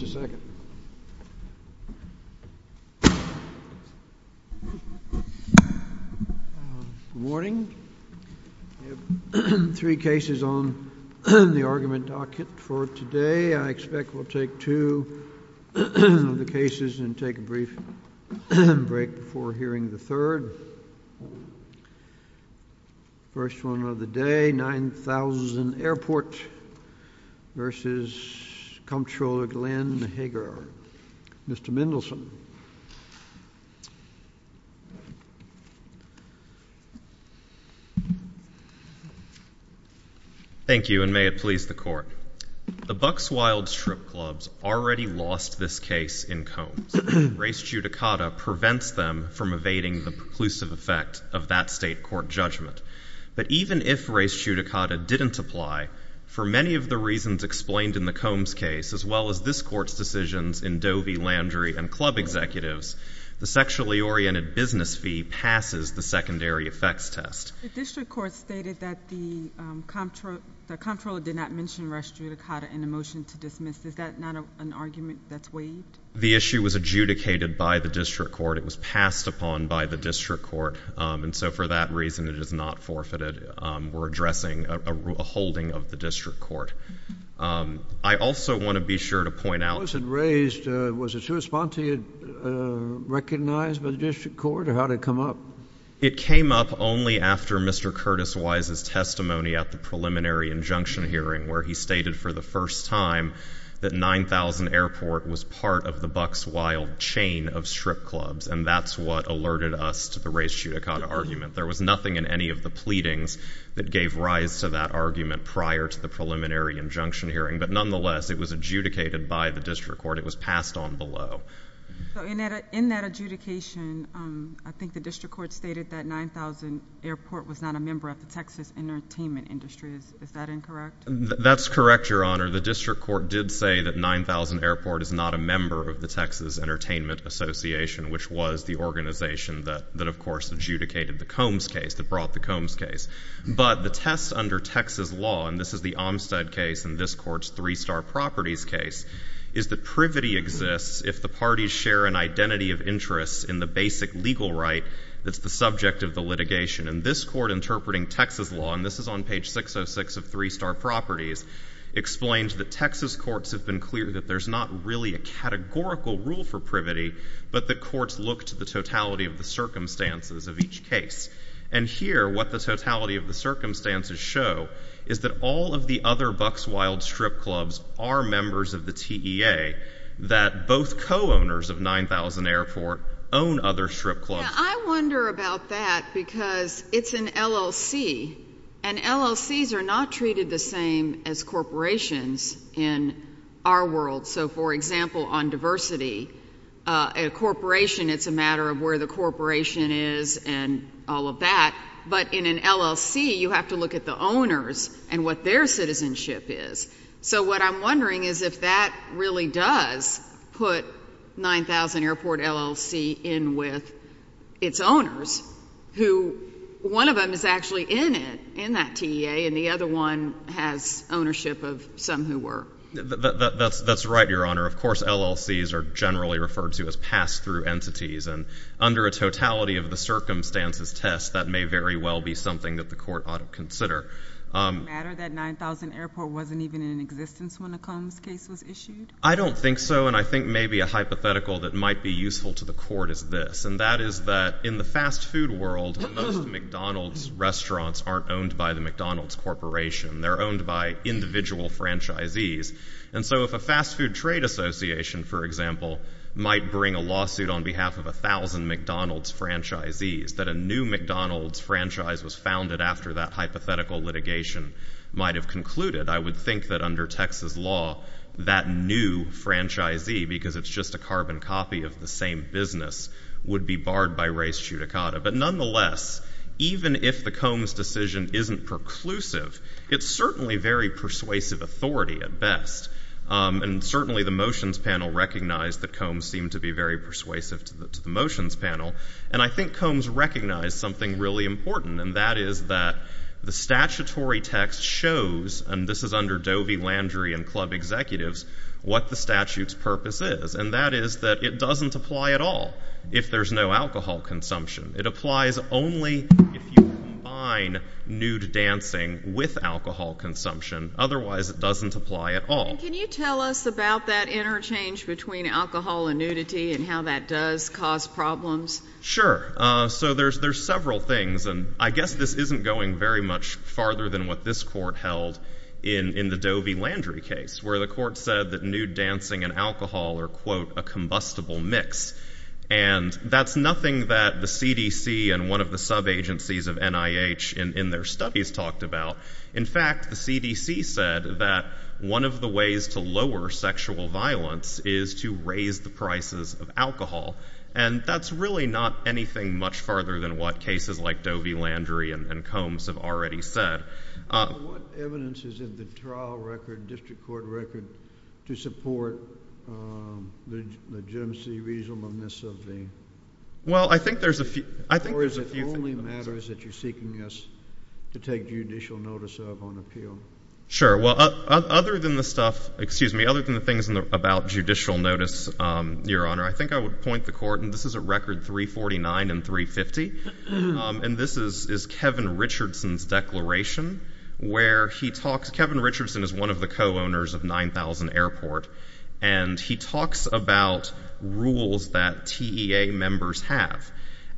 Good morning. We have three cases on the argument docket for today. I expect we'll take two of the cases and take a brief break before hearing the third. First one of the case today, 9000 Airport v. Comptroller Glenn Hegar. Mr. Mendelson. Thank you, and may it please the Court. The Bucks Wilds Strip Clubs already lost this case in Combs. Race judicata prevents them from evading the preclusive effect of that state court judgment. But even if race judicata didn't apply, for many of the reasons explained in the Combs case, as well as this Court's decisions in Dovey, Landry, and Club Executives, the sexually oriented business fee passes the secondary effects test. The District Court stated that the Comptroller did not mention race judicata in the motion to dismiss. Is that not an argument that's waived? The issue was adjudicated by the District Court. It was passed upon by the District Court. And so for that reason, it is not forfeited. We're addressing a holding of the District Court. I also want to be sure to point out Was it raised, was it to respond to, recognized by the District Court or how did it come up? It came up only after Mr. Curtis Wise's testimony at the preliminary injunction hearing where he stated for the first time that 9000 Airport was part of the Bucks Wilds chain of strip clubs. And that's what alerted us to the race judicata argument. There was nothing in any of the pleadings that gave rise to that argument prior to the preliminary injunction hearing. But nonetheless, it was adjudicated by the District Court. It was passed on below. In that adjudication, I think the District Court stated that 9000 Airport was not a member of the Texas entertainment industry. Is that incorrect? That's correct, Your Honor. The District Court did say that 9000 Airport is not a member of the Texas Entertainment Association, which was the organization that of course adjudicated the Combs case, that brought the Combs case. But the test under Texas law, and this is the Olmstead case and this court's Three Star Properties case, is that privity exists if the parties share an identity of interest in the basic legal right that's the subject of the litigation. And this court interpreting Texas law, and this is on page 606 of Three for privity, but the courts look to the totality of the circumstances of each case. And here, what the totality of the circumstances show is that all of the other Buckswild strip clubs are members of the TEA, that both co-owners of 9000 Airport own other strip clubs. Now, I wonder about that because it's an LLC, and LLCs are not treated the same as corporations in our world. So for example, on diversity, a corporation, it's a matter of where the corporation is and all of that. But in an LLC, you have to look at the owners and what their citizenship is. So what I'm wondering is if that really does put 9000 Airport LLC in with its owners, who one of them is actually in it, in that TEA, and the other one has ownership of some who were. That's right, Your Honor. Of course, LLCs are generally referred to as pass-through entities, and under a totality of the circumstances test, that may very well be something that the court ought to consider. Does it matter that 9000 Airport wasn't even in existence when the Combs case was issued? I don't think so, and I think maybe a hypothetical that might be useful to the court is this, and that is that in the fast food world, most McDonald's restaurants aren't owned by the McDonald's Corporation. They're owned by individual franchisees. And so if a fast food trade association, for example, might bring a lawsuit on behalf of 1000 McDonald's franchisees, that a new McDonald's franchise was founded after that hypothetical litigation, might have concluded, I would think that under Texas law, that new franchisee, because it's just a carbon copy of the same business, would be barred by res judicata. But nonetheless, even if the Combs decision isn't preclusive, it's certainly very persuasive authority at best, and certainly the motions panel recognized that Combs seemed to be very persuasive to the motions panel, and I think Combs recognized something really important, and that is that the statutory text shows, and this is under Dovey, Landry, and Club Executives, what the statute's purpose is, and that is that it doesn't apply at all if there's no alcohol consumption. It applies only if you combine nude dancing with alcohol consumption. Otherwise, it doesn't apply at all. And can you tell us about that interchange between alcohol and nudity and how that does cause problems? Sure. So there's several things, and I guess this isn't going very much farther than what this court held in the Dovey-Landry case, where the court said that nude dancing and alcohol are, quote, a combustible mix. And that's nothing that the CDC and one of the sub-agencies of NIH in their studies talked about. In fact, the CDC said that one of the ways to lower sexual violence is to raise the prices of alcohol, and that's really not anything much farther than what cases like Dovey-Landry and Combs have already said. What evidence is in the trial record, district court record, to support the legitimacy, reasonableness of the court? Well, I think there's a few things. Or is it only matters that you're seeking us to take judicial notice of on appeal? Sure. Well, other than the stuff, excuse me, other than the things about judicial notice, Your Honor, I think I would point the court, and this is at record 349 and 350, and this is Kevin Richardson's declaration, where he talks, Kevin Richardson is one of the co-owners of 9000 Airport, and he talks about rules that TEA members have.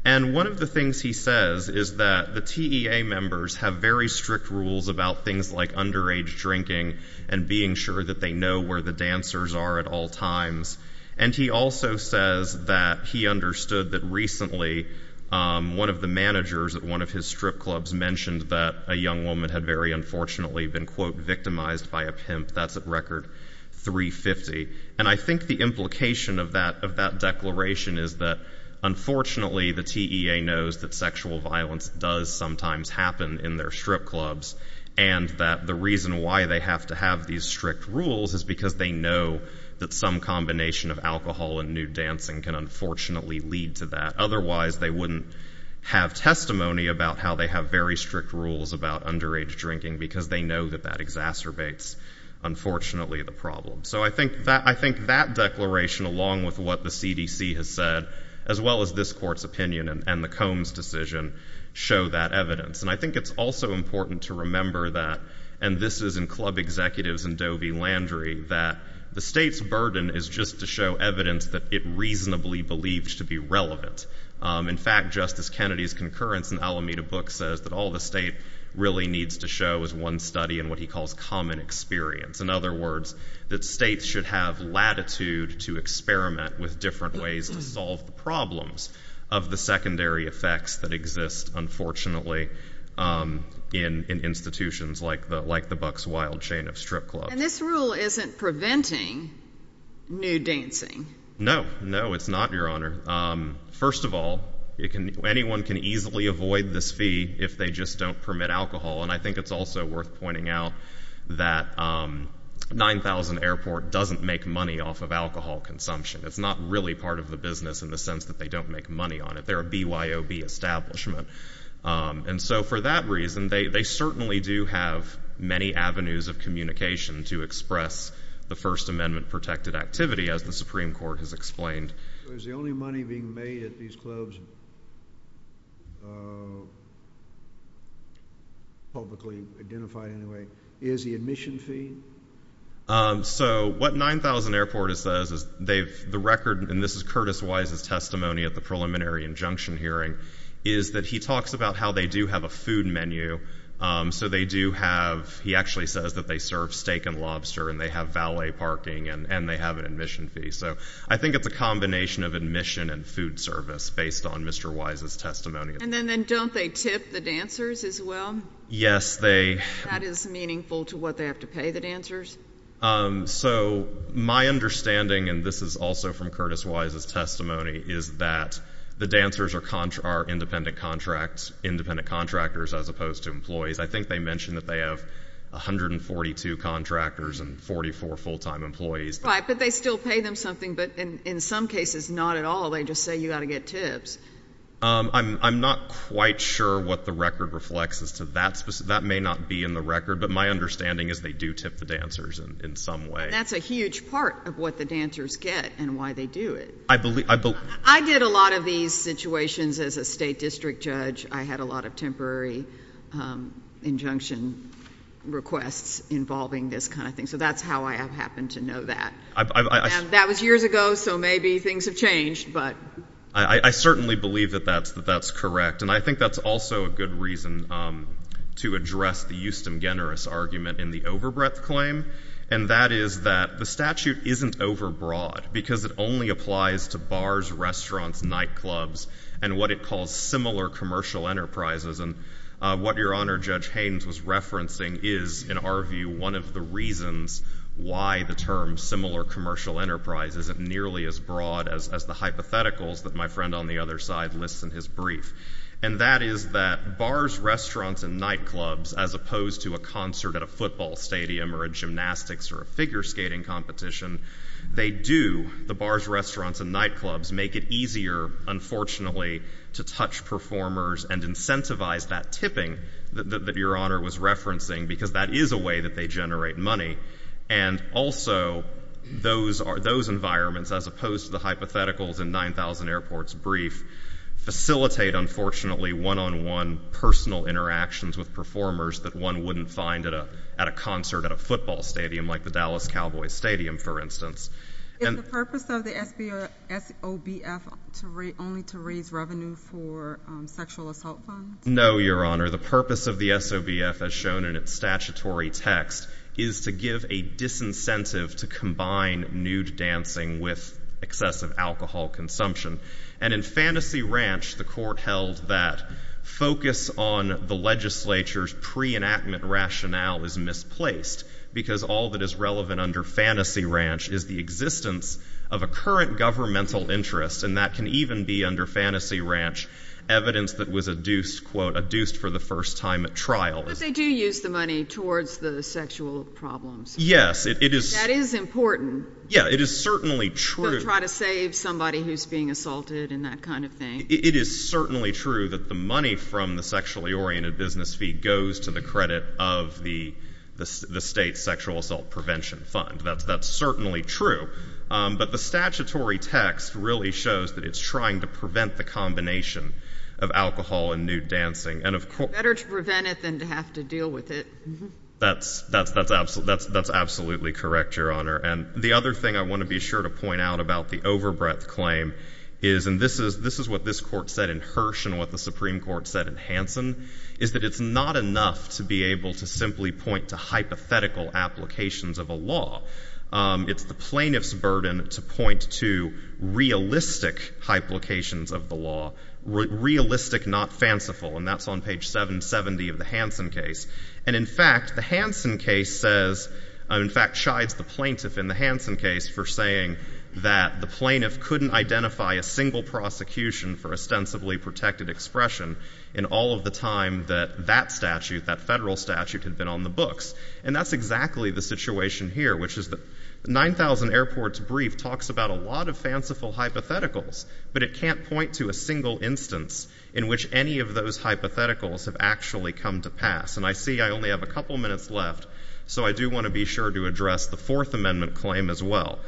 And one of the things he says is that the TEA members have very strict rules about things like underage drinking and being sure that they know where the dancers are at all times. And he also says that he understood that recently, one of the managers at one of his strip clubs mentioned that a young woman had very unfortunately been, quote, victimized by a pimp. That's at record 350. And I think the implication of that declaration is that unfortunately, the TEA knows that sexual violence does sometimes happen in their strip clubs, and that the reason why they have to have these strict rules is because they know that some combination of alcohol and nude dancing can unfortunately lead to that. Otherwise, they wouldn't have testimony about how they have very strict rules about underage drinking, because they know that that exacerbates, unfortunately, the problem. So I think that declaration, along with what the CDC has said, as well as this Court's opinion and the Combs decision, show that evidence. And I think it's also important to remember that, and this is in Club Executives and Dovey Landry, that the state's burden is just to show evidence that it reasonably believed to be relevant. In fact, Justice Kennedy's concurrence in the Alameda book says that all the state really needs to show is one study and what he calls common experience. In other words, that states should have latitude to experiment with different ways to solve the problems of the secondary effects that exist, unfortunately, in institutions like the Bucks Wild Chain of Strip Clubs. And this rule isn't preventing nude dancing? No. No, it's not, Your Honor. First of all, anyone can easily avoid this fee if they just don't permit alcohol. And I think it's also worth pointing out that 9000 Airport doesn't make money off of alcohol consumption. It's not really part of the business in the sense that they don't make money on it. They're a BYOB establishment. And so for that reason, they certainly do have many avenues of communication to express the First Amendment-protected activity, as the Supreme Court has explained. So is the only money being made at these clubs, publicly identified anyway, is the admission fee? So what 9000 Airport says is they've, the record, and this is Curtis Wise's testimony at the preliminary injunction hearing, is that he talks about how they do have a food menu. So they do have, he actually says that they serve steak and lobster, and they have valet parking, and they have an admission fee. So I think it's a combination of admission and food service, based on Mr. Wise's testimony. And then don't they tip the dancers, as well? Yes, they... That is meaningful to what they have to pay the dancers? So my understanding, and this is also from Curtis Wise's testimony, is that the dancers are independent contracts, independent contractors, as opposed to employees. I think they mentioned that they have 142 contractors and 44 full-time employees. Right, but they still pay them something, but in some cases, not at all. They just say you've got to get tips. I'm not quite sure what the record reflects as to that. That may not be in the record, but my understanding is they do tip the dancers in some way. That's a huge part of what the dancers get and why they do it. I believe... I did a lot of these situations as a state district judge. I had a lot of temporary injunction requests involving this kind of thing. So that's how I have happened to know that. That was years ago, so maybe things have changed, but... I certainly believe that that's correct. And I think that's also a good reason to address the Euston-Generis argument in the overbreadth claim, and that is that the statute isn't overbroad because it only applies to bars, restaurants, nightclubs, and what it calls similar commercial enterprises. And what Your Honor, Judge Haynes was referencing is, in our view, one of the reasons why the term similar commercial enterprise isn't nearly as broad as the hypotheticals that my friend on the other side lists in his brief. And that is that bars, restaurants, and nightclubs, as opposed to a concert at a football stadium or a gymnastics or a figure skating competition, they do, the bars, restaurants, and nightclubs, make it easier, unfortunately, to touch performers and incentivize that tipping that Your Honor was referencing, because that is a way that they generate money. And also, those environments, as opposed to the hypotheticals in 9000 Airport's brief, facilitate, unfortunately, one-on-one personal interactions with performers that one wouldn't find at a concert at a football stadium, like the Dallas Cowboys Stadium, for instance. Is the purpose of the SOBF only to raise revenue for sexual assault funds? No, Your Honor. The purpose of the SOBF, as shown in its statutory text, is to give a court held that focus on the legislature's pre-enactment rationale is misplaced, because all that is relevant under Fantasy Ranch is the existence of a current governmental interest, and that can even be, under Fantasy Ranch, evidence that was adduced, quote, adduced for the first time at trial. But they do use the money towards the sexual problems. Yes, it is. That is important. Yeah, it is certainly true. Or try to save somebody who's being assaulted and that kind of thing. It is certainly true that the money from the sexually oriented business fee goes to the credit of the state's sexual assault prevention fund. That's certainly true. But the statutory text really shows that it's trying to prevent the combination of alcohol and nude dancing. Better to prevent it than to have to deal with it. That's absolutely correct, Your Honor. And the other thing I want to be sure to point out about the overbreadth claim is, and this is what this Court said in Hirsch and what the Supreme Court said in Hansen, is that it's not enough to be able to simply point to hypothetical applications of a law. It's the plaintiff's burden to point to realistic applications of the law, realistic, not fanciful. And that's on page 770 of the Hansen case. And in fact, the Hansen case says, in fact chides the plaintiff in the Hansen case for saying that the plaintiff couldn't identify a single prosecution for ostensibly protected expression in all of the time that that statute, that federal statute, had been on the books. And that's exactly the situation here, which is the 9000 Airports Brief talks about a lot of fanciful hypotheticals, but it can't point to a single instance in which any of those hypotheticals have actually come to pass. And I see I only have a couple minutes left, so I do want to be sure to address the Fourth Amendment claim as well.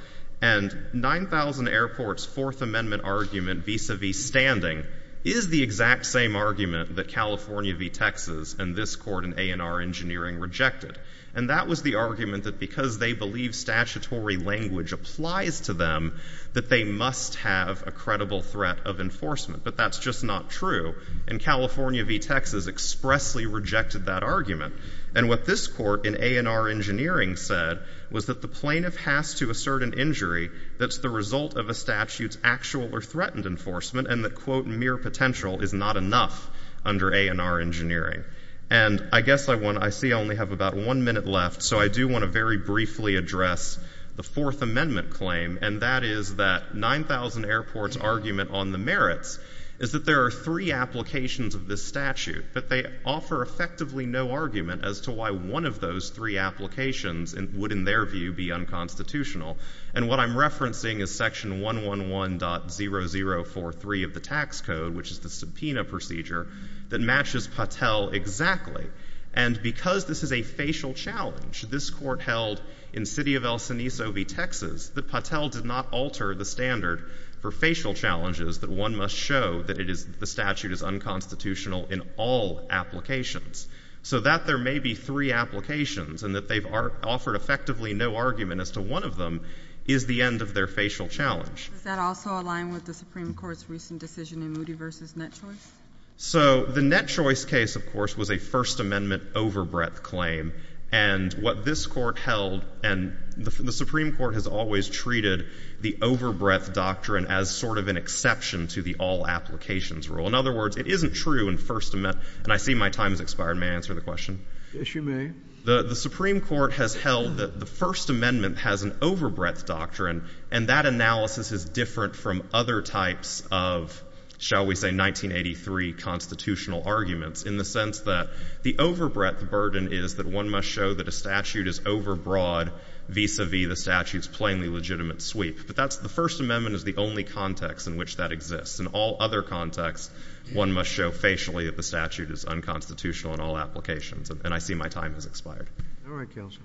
And 9000 Airports' Fourth Amendment argument vis-a-vis standing is the exact same argument that California v. Texas and this Court in A&R Engineering rejected. And that was the argument that because they believe statutory language applies to them, that they must have a credible threat of enforcement. But that's just not true. And California v. Texas expressly rejected that argument. And what this Court in A&R Engineering said was that the plaintiff has to assert an injury that's the result of a statute's actual or threatened enforcement, and that, quote, mere potential is not enough under A&R Engineering. And I guess I want to — I see I only have about one minute left, so I do want to very briefly address the Fourth Amendment claim, and that is that 9000 Airports' argument on the merits is that there are three applications of this statute, but they offer effectively no argument as to why one of those three applications would, in their view, be unconstitutional. And what I'm referencing is Section 111.0043 of the tax code, which is the subpoena procedure, that matches Patel exactly. And because this is a facial challenge, this Court held in the city of El Cenizo v. Texas that Patel did not alter the standard for facial challenges, that one must show that it is — the statute is unconstitutional in all applications. So that there may be three applications and that they've offered effectively no argument as to one of them is the end of their facial challenge. Does that also align with the Supreme Court's recent decision in Moody v. Net Choice? So the Net Choice case, of course, was a First Amendment overbreadth claim. And what this Court held — and the Supreme Court has always treated the overbreadth doctrine as sort of an exception to the all-applications rule. In other words, it isn't true in First Amendment — and I see my time has expired. May I answer the question? Yes, you may. The Supreme Court has held that the First Amendment has an overbreadth doctrine, and that analysis is different from other types of, shall we say, 1983 constitutional arguments, in the sense that the overbreadth burden is that one must show that a statute is overbroad vis-a-vis the statute's plainly legitimate sweep. But that's — the First Amendment is the only context in which that exists. In all other contexts, one must show facially that the statute is unconstitutional in all applications. And I see my time has expired. All right, Counselor.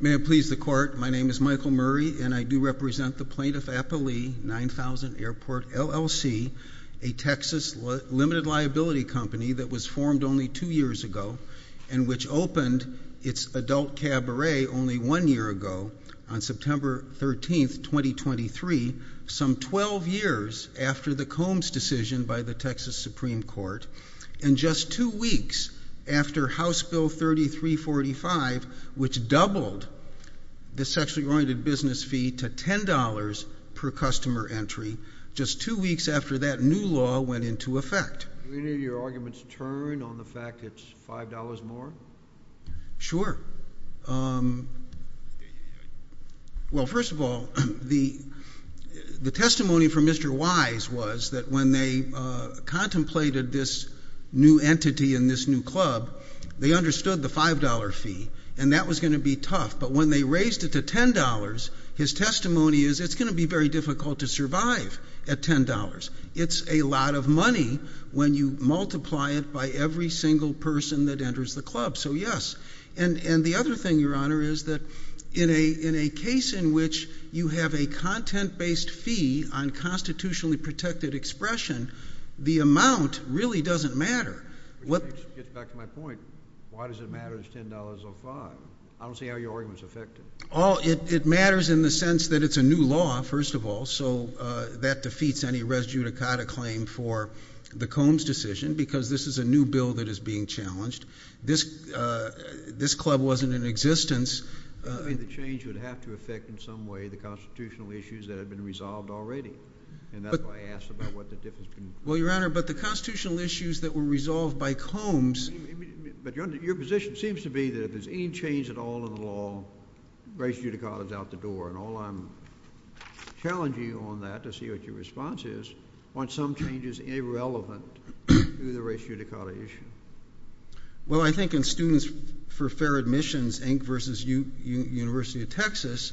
May it please the Court, my name is Michael Murray, and I do represent the Plaintiff Applee 9000 Airport, LLC, a Texas limited liability company that was formed only two years ago, and which opened its adult cabaret only one year ago, on September 13th, 2023, some 12 years after the Combs decision by the Texas Supreme Court, and just two weeks after House Bill 3345, which doubled the sexually oriented business fee to $10 per customer entry, just two weeks after that new law went into effect. Do any of your arguments turn on the fact that it's $5 more? Sure. Well, first of all, the testimony from Mr. Wise was that when they contemplated this new entity and this new club, they understood the $5 fee, and that was going to be tough. But when they raised it to $10, his testimony is it's going to be very difficult to survive at $10. It's a lot of money when you multiply it by every single person that enters the club, so yes. And the other thing, Your Honor, is that in a case in which you have a content-based fee on constitutionally protected expression, the amount really doesn't matter. Which brings me back to my point, why does it matter it's $10 or $5? I don't see how your argument is affected. It matters in the sense that it's a new law, first of all, so that defeats any res judicata claim for the Combs decision, because this is a new bill that is being challenged. This club wasn't in existence. I think the change would have to affect, in some way, the constitutional issues that have been resolved already. And that's why I asked about what the difference can be. Well, Your Honor, but the constitutional issues that were resolved by Combs Your position seems to be that if there's any change at all in the law, res judicata is out the door. And all I'm challenging you on that, to see what your response is, aren't some changes irrelevant to the res judicata issue? Well, I think in Students for Fair Admissions, Inc. v. University of Texas,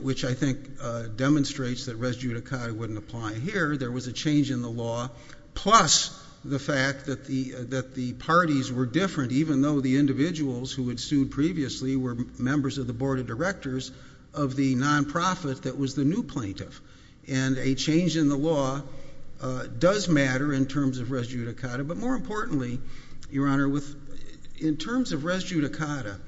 which I think demonstrates that res judicata wouldn't apply here, there was a change in the law, plus the fact that the parties were different, even though the individuals who had sued previously were members of the board of directors of the non-profit that was the new plaintiff. And a change in the law does matter in terms of res judicata, but more importantly, Your Honor, in terms of res judicata,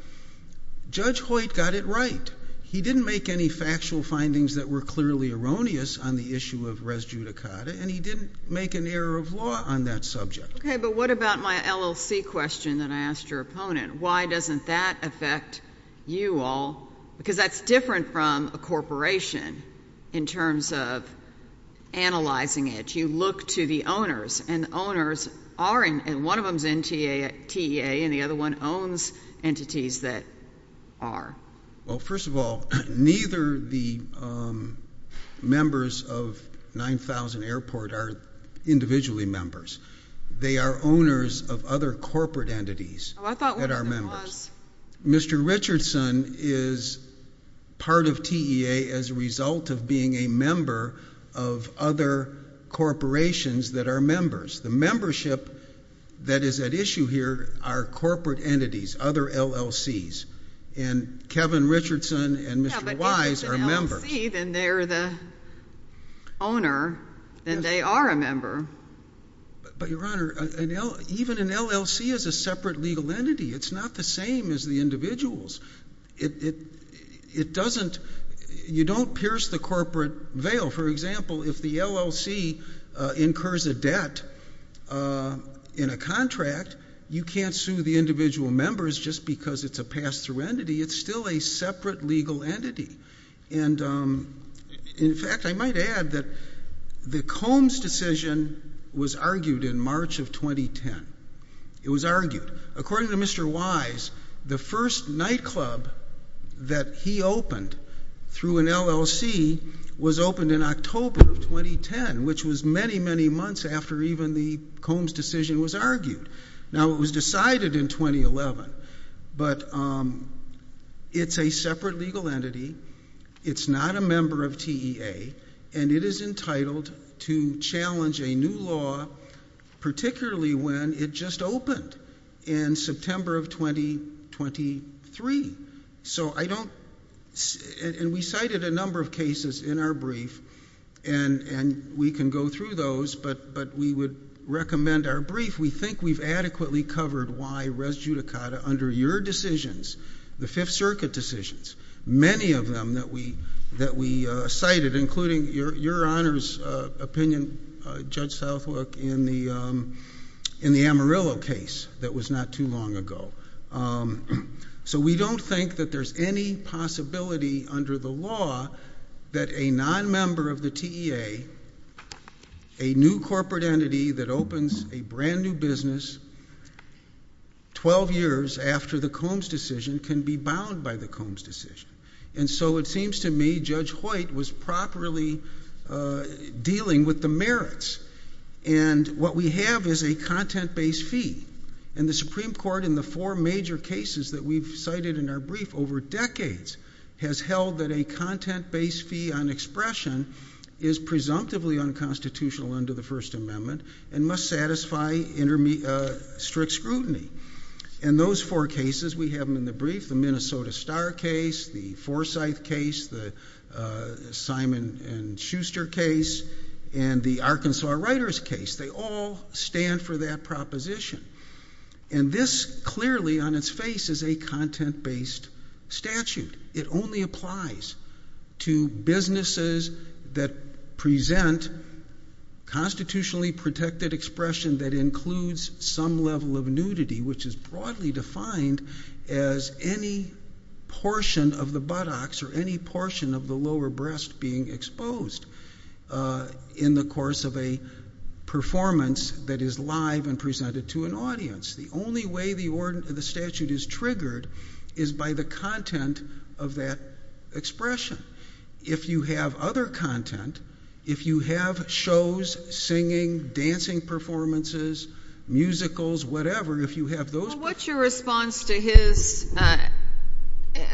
Judge Hoyt got it right. He didn't make any factual findings that were clearly erroneous on the issue of res judicata, and he didn't make an error of law on that subject. Okay, but what about my LLC question that I asked your opponent? Why doesn't that affect you all? Because that's different from a corporation in terms of analyzing it. You look to the owners, and the owners are, and one of them is in TEA, and the other one owns entities that are. Well, first of all, neither the members of 9000 Airport are individually members. They are owners of other corporate entities that are members. Mr. Richardson is part of TEA as a result of being a member of other corporations that are members. The membership that is at issue here are corporate entities, other LLCs, and Kevin Richardson and Mr. Wise are members. Yeah, but if it's an LLC, then they're the owner, then they are a member. But Your Honor, even an LLC is a separate legal entity. It's not the same as the individuals. It doesn't, you don't pierce the corporate veil. For example, if the LLC incurs a debt in a contract, you can't sue the individual members just because it's a pass-through entity. It's still a separate legal entity, and in fact, I might add that the Combs decision was argued in March of 2010. It was argued. According to Mr. Wise, the first nightclub that he opened through an LLC was opened in October of 2010, which was many, many months after even the Combs decision was argued. Now, it was decided in 2011, but it's a separate legal entity. It's not a member of TEA, and it is entitled to challenge a new law, particularly when it just opened in September of 2023. So I don't, and we cited a number of cases in our brief, and we can go through those, but we would recommend our brief. We think we've adequately covered why res judicata under your decisions, the Fifth Circuit decisions, many of them that we cited, including Your Honor's opinion, Judge Southwook, in the Amarillo case that was not too long ago. So we don't think that there's any possibility under the law that a non-member of the TEA, a new corporate entity that opens a brand new business 12 years after the Combs decision can be bound by the Combs decision. And so it seems to me Judge Hoyt was properly dealing with the merits, and what we have is a content-based fee, and the Supreme Court, in the four major cases that we've cited in our brief over decades, has held that a content-based fee on expression is presumptively unconstitutional under the First Amendment and must satisfy strict scrutiny. And those four cases, we have them in the brief, the Minnesota Star case, the Forsyth case, the Simon & Schuster case, and the Arkansas Writers case. They all stand for that proposition. And this clearly on its face is a content-based statute. It only applies to businesses that present constitutionally protected expression that includes some level of nudity, which is broadly defined as any portion of the buttocks or any portion of the lower breast being exposed in the course of a performance that is live and presented to an audience. The only way the statute is triggered is by the content of that expression. If you have other content, if you have shows, singing, dancing performances, musicals, whatever, if you have those... Well, what's your response to his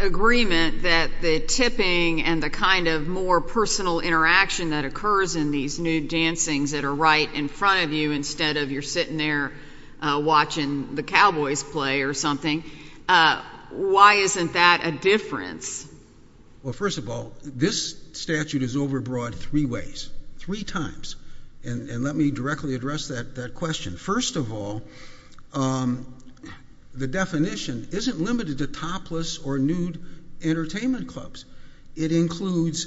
agreement that the tipping and the kind of more personal interaction that occurs in these nude dancings that are right in front of you instead of you're sitting there watching the Cowboys play or something, why isn't that a difference? Well, first of all, this statute is overbroad three ways, three times. And let me directly address that question. First of all, the definition isn't limited to topless or nude entertainment clubs. It includes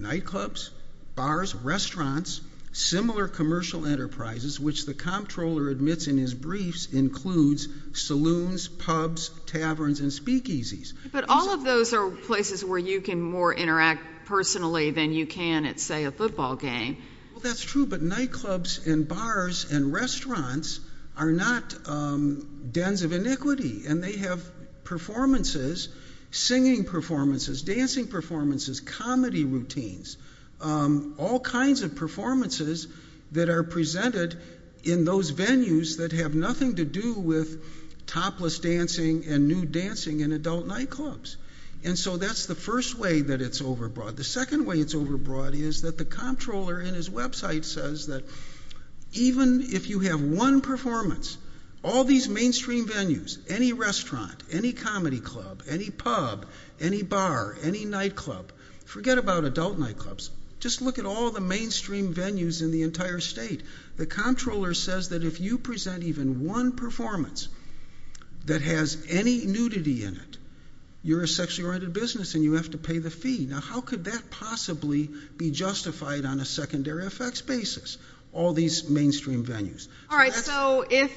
nightclubs, bars, restaurants, similar commercial enterprises, which the comptroller admits in his briefs includes saloons, pubs, taverns, and speakeasies. But all of those are places where you can more interact personally than you can at, say, a football game. Well, that's true. But nightclubs and bars and restaurants are not dens of iniquity. And they have performances, singing performances, dancing performances, comedy routines, all kinds of performances that are presented in those venues that have nothing to do with topless dancing and nude dancing in adult nightclubs. And so that's the first way that it's overbroad. The second way it's overbroad is that the comptroller in his website says that even if you have one performance, all these mainstream venues, any restaurant, any comedy club, any pub, any bar, any nightclub, forget about adult nightclubs, just look at all the mainstream venues in the entire state. The comptroller says that if you present even one performance that has any nudity in it, you're a sexually oriented business and you have to pay the fee. Now, how could that possibly be justified on a secondary effects basis, all these mainstream venues? All right. So if,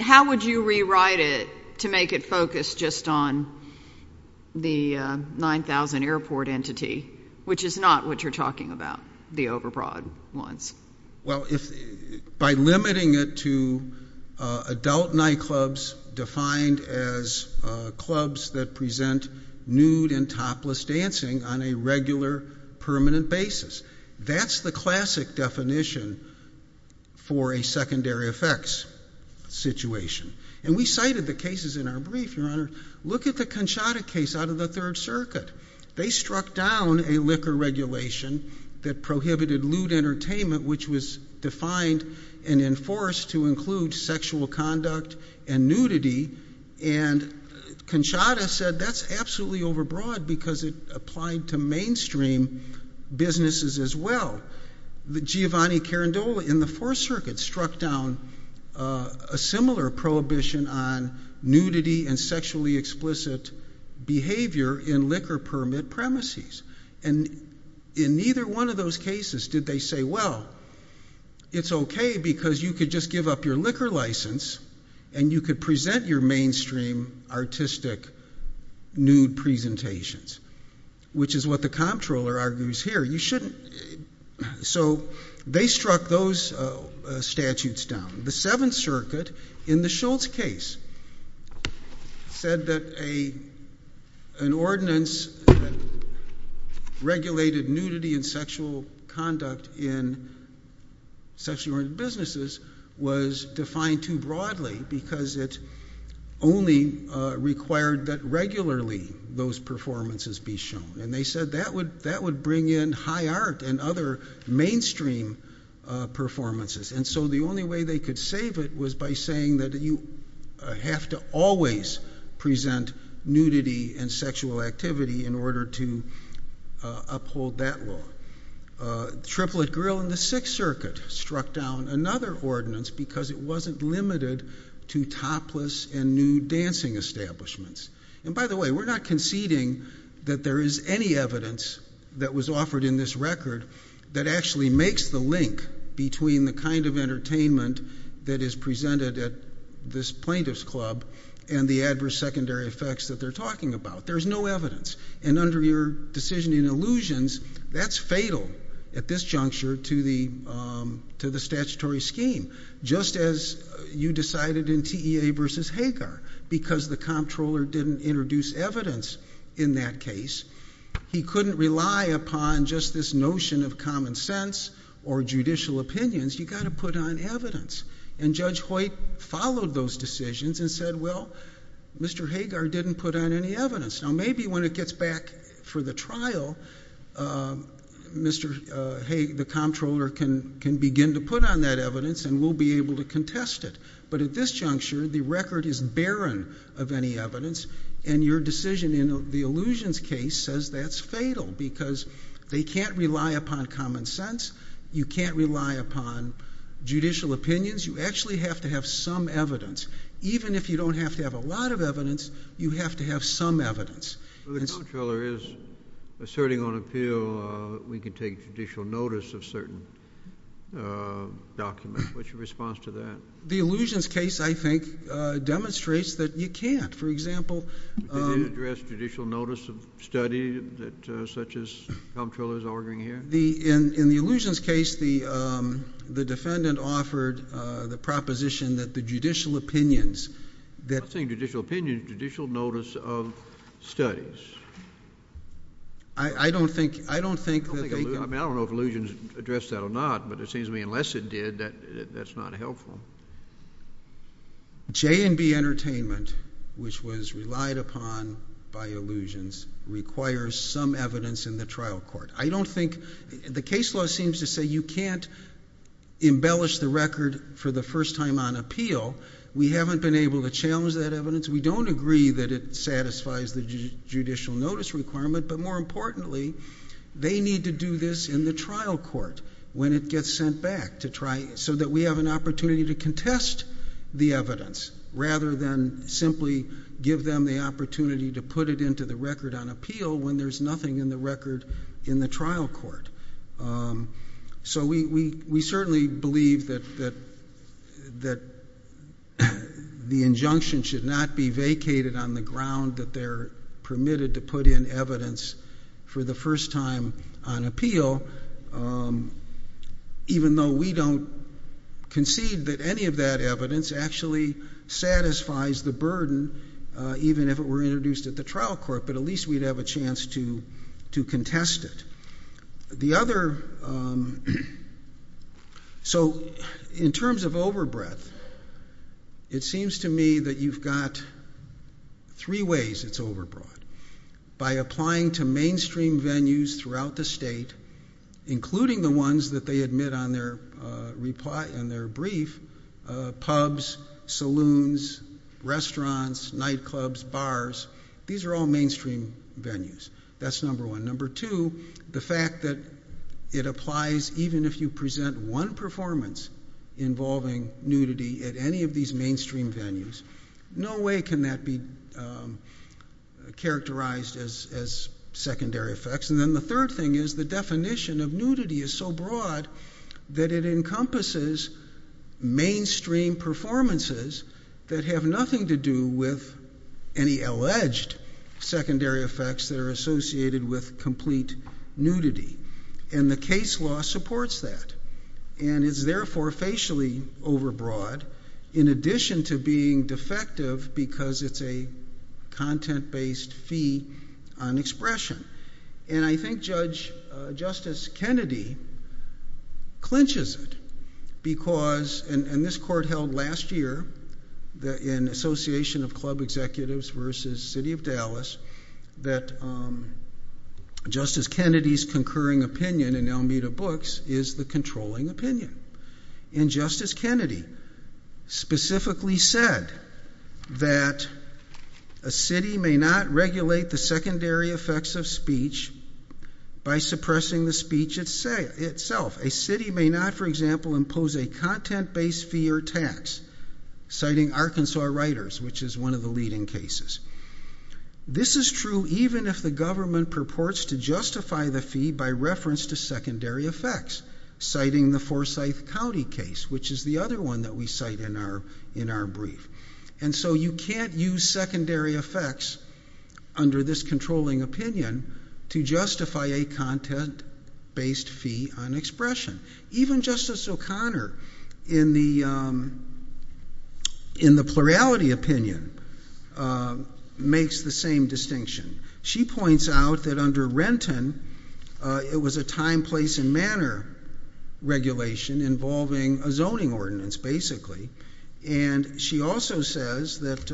how would you rewrite it to make it focus just on the 9,000 airport entity, which is not what you're talking about, the overbroad ones? Well, if by limiting it to adult nightclubs defined as clubs that present nude and topless dancing on a regular permanent basis, that's the classic definition for a secondary effects situation. And we cited the cases in our brief, Your Honor. Look at the Conchata case out of the third circuit. They struck down a liquor regulation that prohibited lewd entertainment, which was defined and enforced to include sexual conduct and nudity. And Conchata said that's absolutely overbroad because it applied to mainstream businesses as well. Giovanni Carandola in the fourth circuit struck down a similar prohibition on nudity and sexually explicit behavior in liquor permit premises. And in neither one of those cases did they say, well, it's okay because you could just up your liquor license and you could present your mainstream artistic nude presentations, which is what the comptroller argues here. You shouldn't. So they struck those statutes down. The seventh circuit in the Schultz case said that an ordinance that regulated nudity and sexual conduct in sexual oriented businesses was defined too broadly because it only required that regularly those performances be shown. And they said that would bring in high art and other mainstream performances. And so the only way they could save it was by saying that you have to always present nudity and sexual activity in order to uphold that law. Triplet Grill in the sixth circuit struck down another ordinance because it wasn't limited to topless and nude dancing establishments. And by the way, we're not conceding that there is any evidence that was offered in this record that actually makes the link between the kind of entertainment that is presented at this plaintiff's club and the adverse secondary effects that they're talking about. There's no evidence. And under your decision in allusions, that's fatal at this juncture to the statutory scheme. Just as you decided in TEA versus Hagar because the comptroller didn't introduce evidence in that case. He couldn't rely upon just this notion of common sense or judicial opinions. You got to put on evidence. And Judge Hoyt followed those decisions and said, well, Mr. Hagar didn't put on any evidence. Now, maybe when it gets back for the trial, Mr. Hagar, the comptroller, can begin to put on that evidence and we'll be able to contest it. But at this juncture, the record is barren of any evidence and your decision in the allusions case says that's fatal because they can't rely upon common sense. You can't rely upon judicial opinions. You actually have to have some evidence. Even if you don't have to have a lot of evidence, you have to have some evidence. The comptroller is asserting on appeal that we can take judicial notice of certain documents. What's your response to that? The allusions case, I think, demonstrates that you can't. For example, You can't address judicial notice of study such as the comptroller is arguing here? In the allusions case, the defendant offered the proposition that the judicial opinions I'm not saying judicial opinions, judicial notice of studies. I don't think that they can I don't know if allusions address that or not, but it seems to me unless it did, that's not helpful. J&B Entertainment, which was relied upon by allusions, requires some evidence in the trial court. The case law seems to say you can't embellish the record for the first time on appeal. We haven't been able to challenge that evidence. We don't agree that it satisfies the judicial notice requirement, but more importantly, they need to do this in the trial court when it gets sent back so that we have an opportunity to contest the evidence rather than simply give them the opportunity to put it into the record on appeal when there's nothing in the record in the trial court. So we certainly believe that the injunction should not be vacated on the ground that they're permitted to put in evidence for the first time on appeal, even though we don't concede that any of that evidence actually satisfies the burden, even if it were introduced at the trial court. But at least we'd have a chance to contest it. So in terms of overbreadth, it seems to me that you've got three ways it's overbroad. By applying to mainstream venues throughout the state, including the ones that they admit on their brief, pubs, saloons, restaurants, nightclubs, bars, these are all mainstream venues. That's number one. Number two, the fact that it applies even if you present one performance involving nudity at any of these mainstream venues. No way can that be characterized as secondary effects. And then the third thing is the definition of nudity is so broad that it encompasses mainstream performances that have nothing to do with any alleged secondary effects that are associated with complete nudity. And the case law supports that. And it's therefore facially overbroad, in addition to being defective because it's a content-based fee on expression. And I think Justice Kennedy clinches it because, and this court held last year in Association of Club Executives versus City of Dallas, that Justice Kennedy's concurring opinion in Almeda Books is the controlling opinion. And Justice Kennedy specifically said that a city may not regulate the secondary effects of speech by suppressing the speech itself. A city may not, for example, impose a content-based fee or tax, citing Arkansas Writers, which is one of the leading cases. This is true even if the government purports to justify the fee by reference to secondary effects, citing the Forsyth County case, which is the other one that we cite in our brief. And so you can't use secondary effects under this controlling opinion to justify a content-based fee on expression. Even Justice O'Connor, in the plurality opinion, makes the same distinction. She points out that under Renton, it was a time, place, and manner regulation involving a zoning ordinance, basically. And she also says that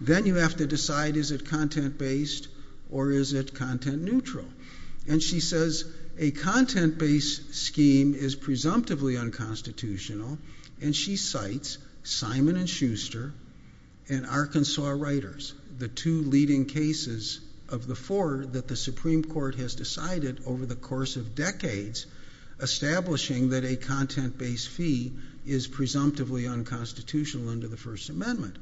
then you have to decide, is it content-based or is it content-neutral? And she says a content-based scheme is presumptively unconstitutional, and she cites Simon & Schuster and Arkansas Writers, the two leading cases of the four that the Supreme Court has decided over the course of decades, establishing that a content-based fee is presumptively unconstitutional under the First Amendment.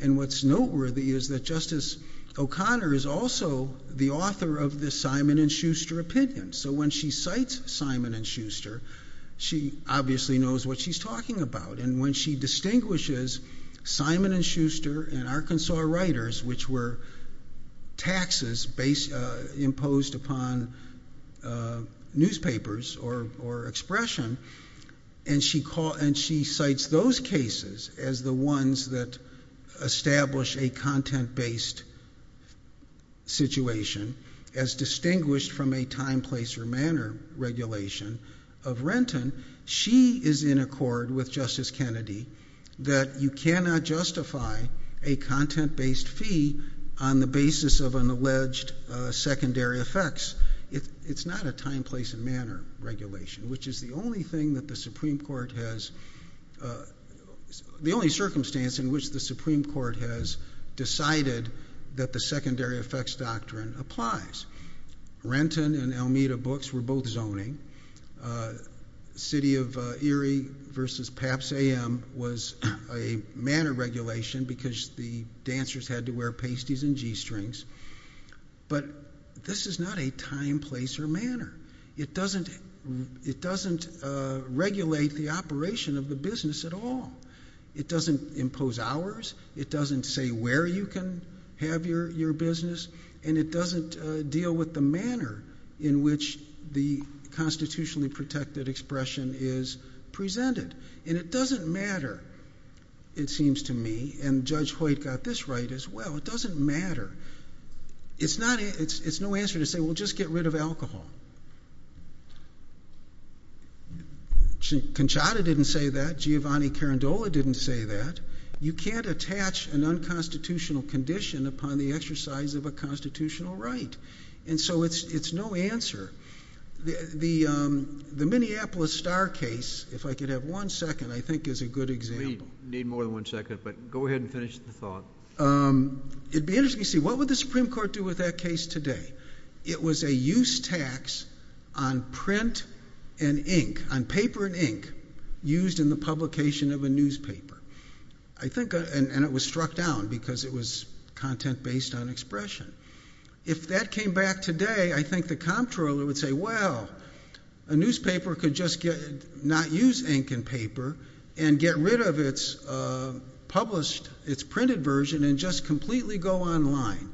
And what's noteworthy is that Justice O'Connor is also the author of the Simon & Schuster opinion. So when she cites Simon & Schuster, she obviously knows what she's talking about. And when she distinguishes Simon & Schuster and Arkansas Writers, which were taxes imposed upon newspapers or expression, and she cites those cases as the ones that establish a content-based situation as distinguished from a time, place, or manner regulation of Renton, she is in accord with Justice Kennedy that you cannot justify a content-based fee on the basis of an alleged secondary effects. It's not a time, place, and manner regulation, which is the only thing that the Supreme Court has, the only circumstance in which the Supreme Court has decided that the secondary effects doctrine applies. Renton and Almeida Books were both zoning. City of Erie versus Pabst AM was a manner regulation because the dancers had to wear pasties and g-strings. But this is not a time, place, or manner. It doesn't regulate the operation of the business at all. It doesn't impose hours. It doesn't say where you can have your business. And it doesn't deal with the manner in which the constitutionally protected expression is presented. And it doesn't matter, it seems to me, and Judge Hoyt got this right as well. It doesn't matter. It's no answer to say, well, just get rid of alcohol. Conchata didn't say that, Giovanni Carandola didn't say that. You can't attach an unconstitutional condition upon the exercise of a constitutional right. And so it's no answer. The Minneapolis Star case, if I could have one second, I think is a good example. We need more than one second, but go ahead and finish the thought. It'd be interesting to see what would the Supreme Court do with that case today? It was a use tax on print and ink, on paper and ink, used in the publication of a newspaper. I think, and it was struck down because it was content based on expression. If that came back today, I think the comptroller would say, well, a newspaper could just not use ink and paper and get rid of its published, its printed version and just completely go online.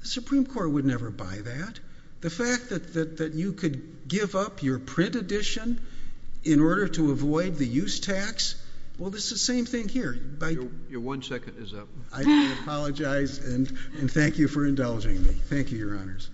The Supreme Court would never buy that. The fact that you could give up your print edition in order to avoid the use tax, well, it's the same thing here. Your one second is up. I do apologize and thank you for indulging me. Thank you, Your Honors.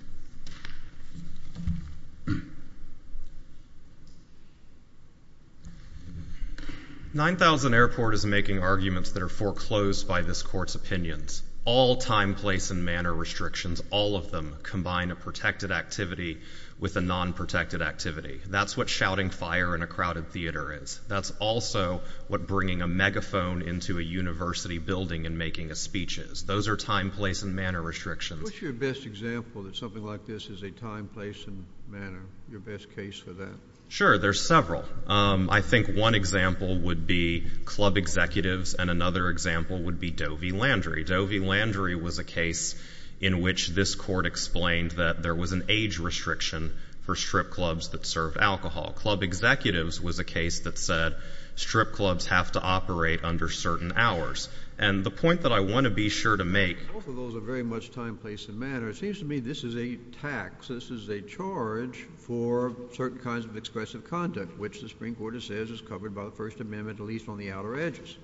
9000 Airport is making arguments that are foreclosed by this court's opinions. All time, place and manner restrictions, all of them combine a protected activity with a non-protected activity. That's what shouting fire in a crowded theater is. That's also what bringing a megaphone into a university building and making a speech is. Those are time, place and manner restrictions. What's your best example that something like this is a time, place and manner? Your best case for that? There's several. I think one example would be club executives and another example would be Dovey Landry. Dovey Landry was a case in which this court explained that there was an age restriction for strip clubs that serve alcohol. Club executives was a case that said strip clubs have to operate under certain hours. And the point that I want to be sure to make— Both of those are very much time, place and manner. It seems to me this is a tax. This is a charge for certain kinds of expressive conduct, which the Supreme Court says is covered by the First Amendment, at least on the outer edges.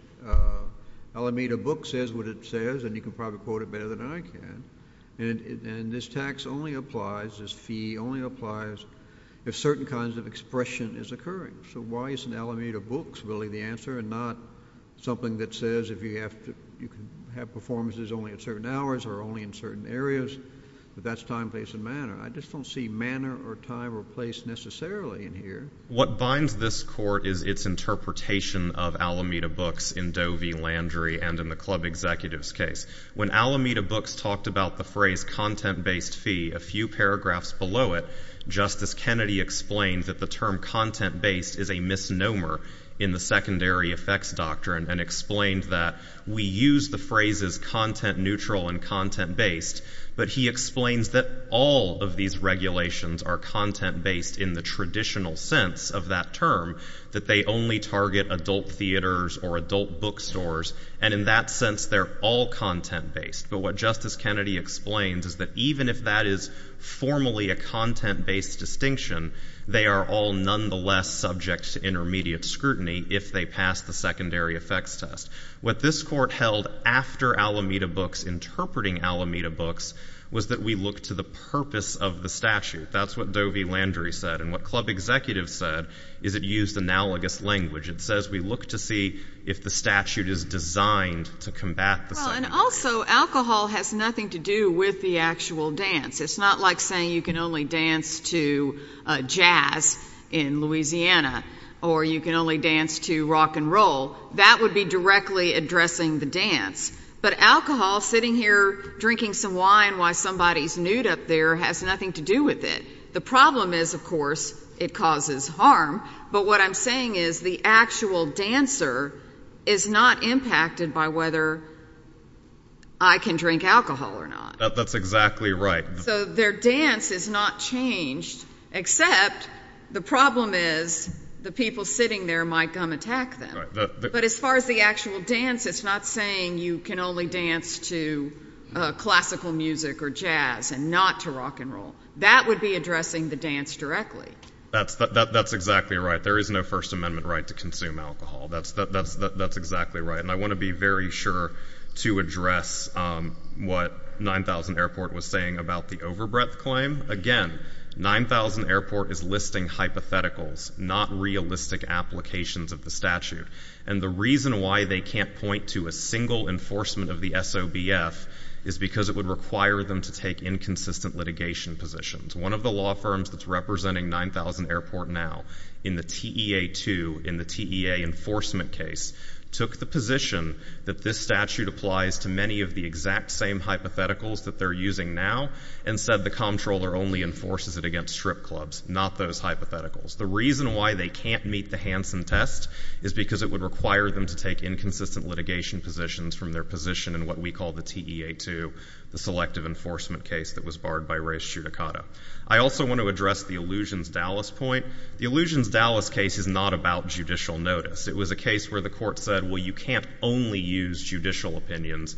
Alameda Books says what it says, and you can probably quote it better than I can, and this tax only applies, this fee only applies if certain kinds of expression is occurring. So why isn't Alameda Books really the answer and not something that says you can have performances only at certain hours or only in certain areas, but that's time, place and manner? I just don't see manner or time or place necessarily in here. What binds this court is its interpretation of Alameda Books in Dovey Landry and in the club executives case. When Alameda Books talked about the phrase content-based fee, a few paragraphs below it, Justice Kennedy explained that the term content-based is a misnomer in the secondary effects doctrine and explained that we use the phrases content-neutral and content-based, but he explains that all of these regulations are content-based in the traditional sense of that term, that they only target adult theaters or adult bookstores, and in that sense they're all content-based. But what Justice Kennedy explains is that even if that is formally a content-based distinction, they are all nonetheless subject to intermediate scrutiny if they pass the secondary effects test. What this court held after Alameda Books, interpreting Alameda Books, was that we look to the purpose of the statute. That's what Dovey Landry said, and what club executives said is it used analogous language. It says we look to see if the statute is designed to combat the secondary effects. Well, and also alcohol has nothing to do with the actual dance. It's not like saying you can only dance to jazz in Louisiana or you can only dance to rock and roll. That would be directly addressing the dance, but alcohol, sitting here drinking some wine while somebody's nude up there, has nothing to do with it. The problem is, of course, it causes harm, but what I'm saying is the actual dancer is not impacted by whether I can drink alcohol or not. That's exactly right. So their dance is not changed, except the problem is the people sitting there might come attack them. But as far as the actual dance, it's not saying you can only dance to classical music or jazz and not to rock and roll. That would be addressing the dance directly. That's exactly right. There is no First Amendment right to consume alcohol. That's exactly right. And I want to be very sure to address what 9000 Airport was saying about the overbreadth Again, 9000 Airport is listing hypotheticals, not realistic applications of the statute. And the reason why they can't point to a single enforcement of the SOBF is because it would require them to take inconsistent litigation positions. One of the law firms that's representing 9000 Airport now in the TEA2, in the TEA enforcement case, took the position that this statute applies to many of the exact same hypotheticals that they're using now, and said the comptroller only enforces it against strip clubs, not those hypotheticals. The reason why they can't meet the Hansen test is because it would require them to take inconsistent litigation positions from their position in what we call the TEA2, the selective enforcement case that was barred by res judicata. I also want to address the Illusions Dallas point. The Illusions Dallas case is not about judicial notice. It was a case where the court said, well, you can't only use judicial opinions,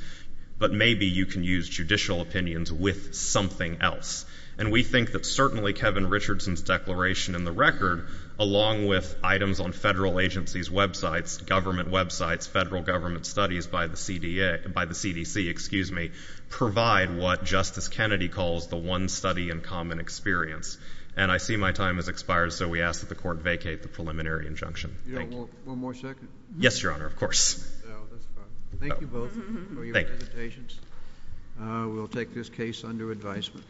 but maybe you can use judicial opinions with something else. And we think that certainly Kevin Richardson's declaration in the record, along with items on federal agencies, websites, government websites, federal government studies by the CDA, by the CDC, excuse me, provide what Justice Kennedy calls the one study in common experience. And I see my time has expired. So we ask that the court vacate the preliminary injunction. Thank you. One more second. Yes, Your Honor. Of course. Thank you both. Thank you. We'll take this case under advisement.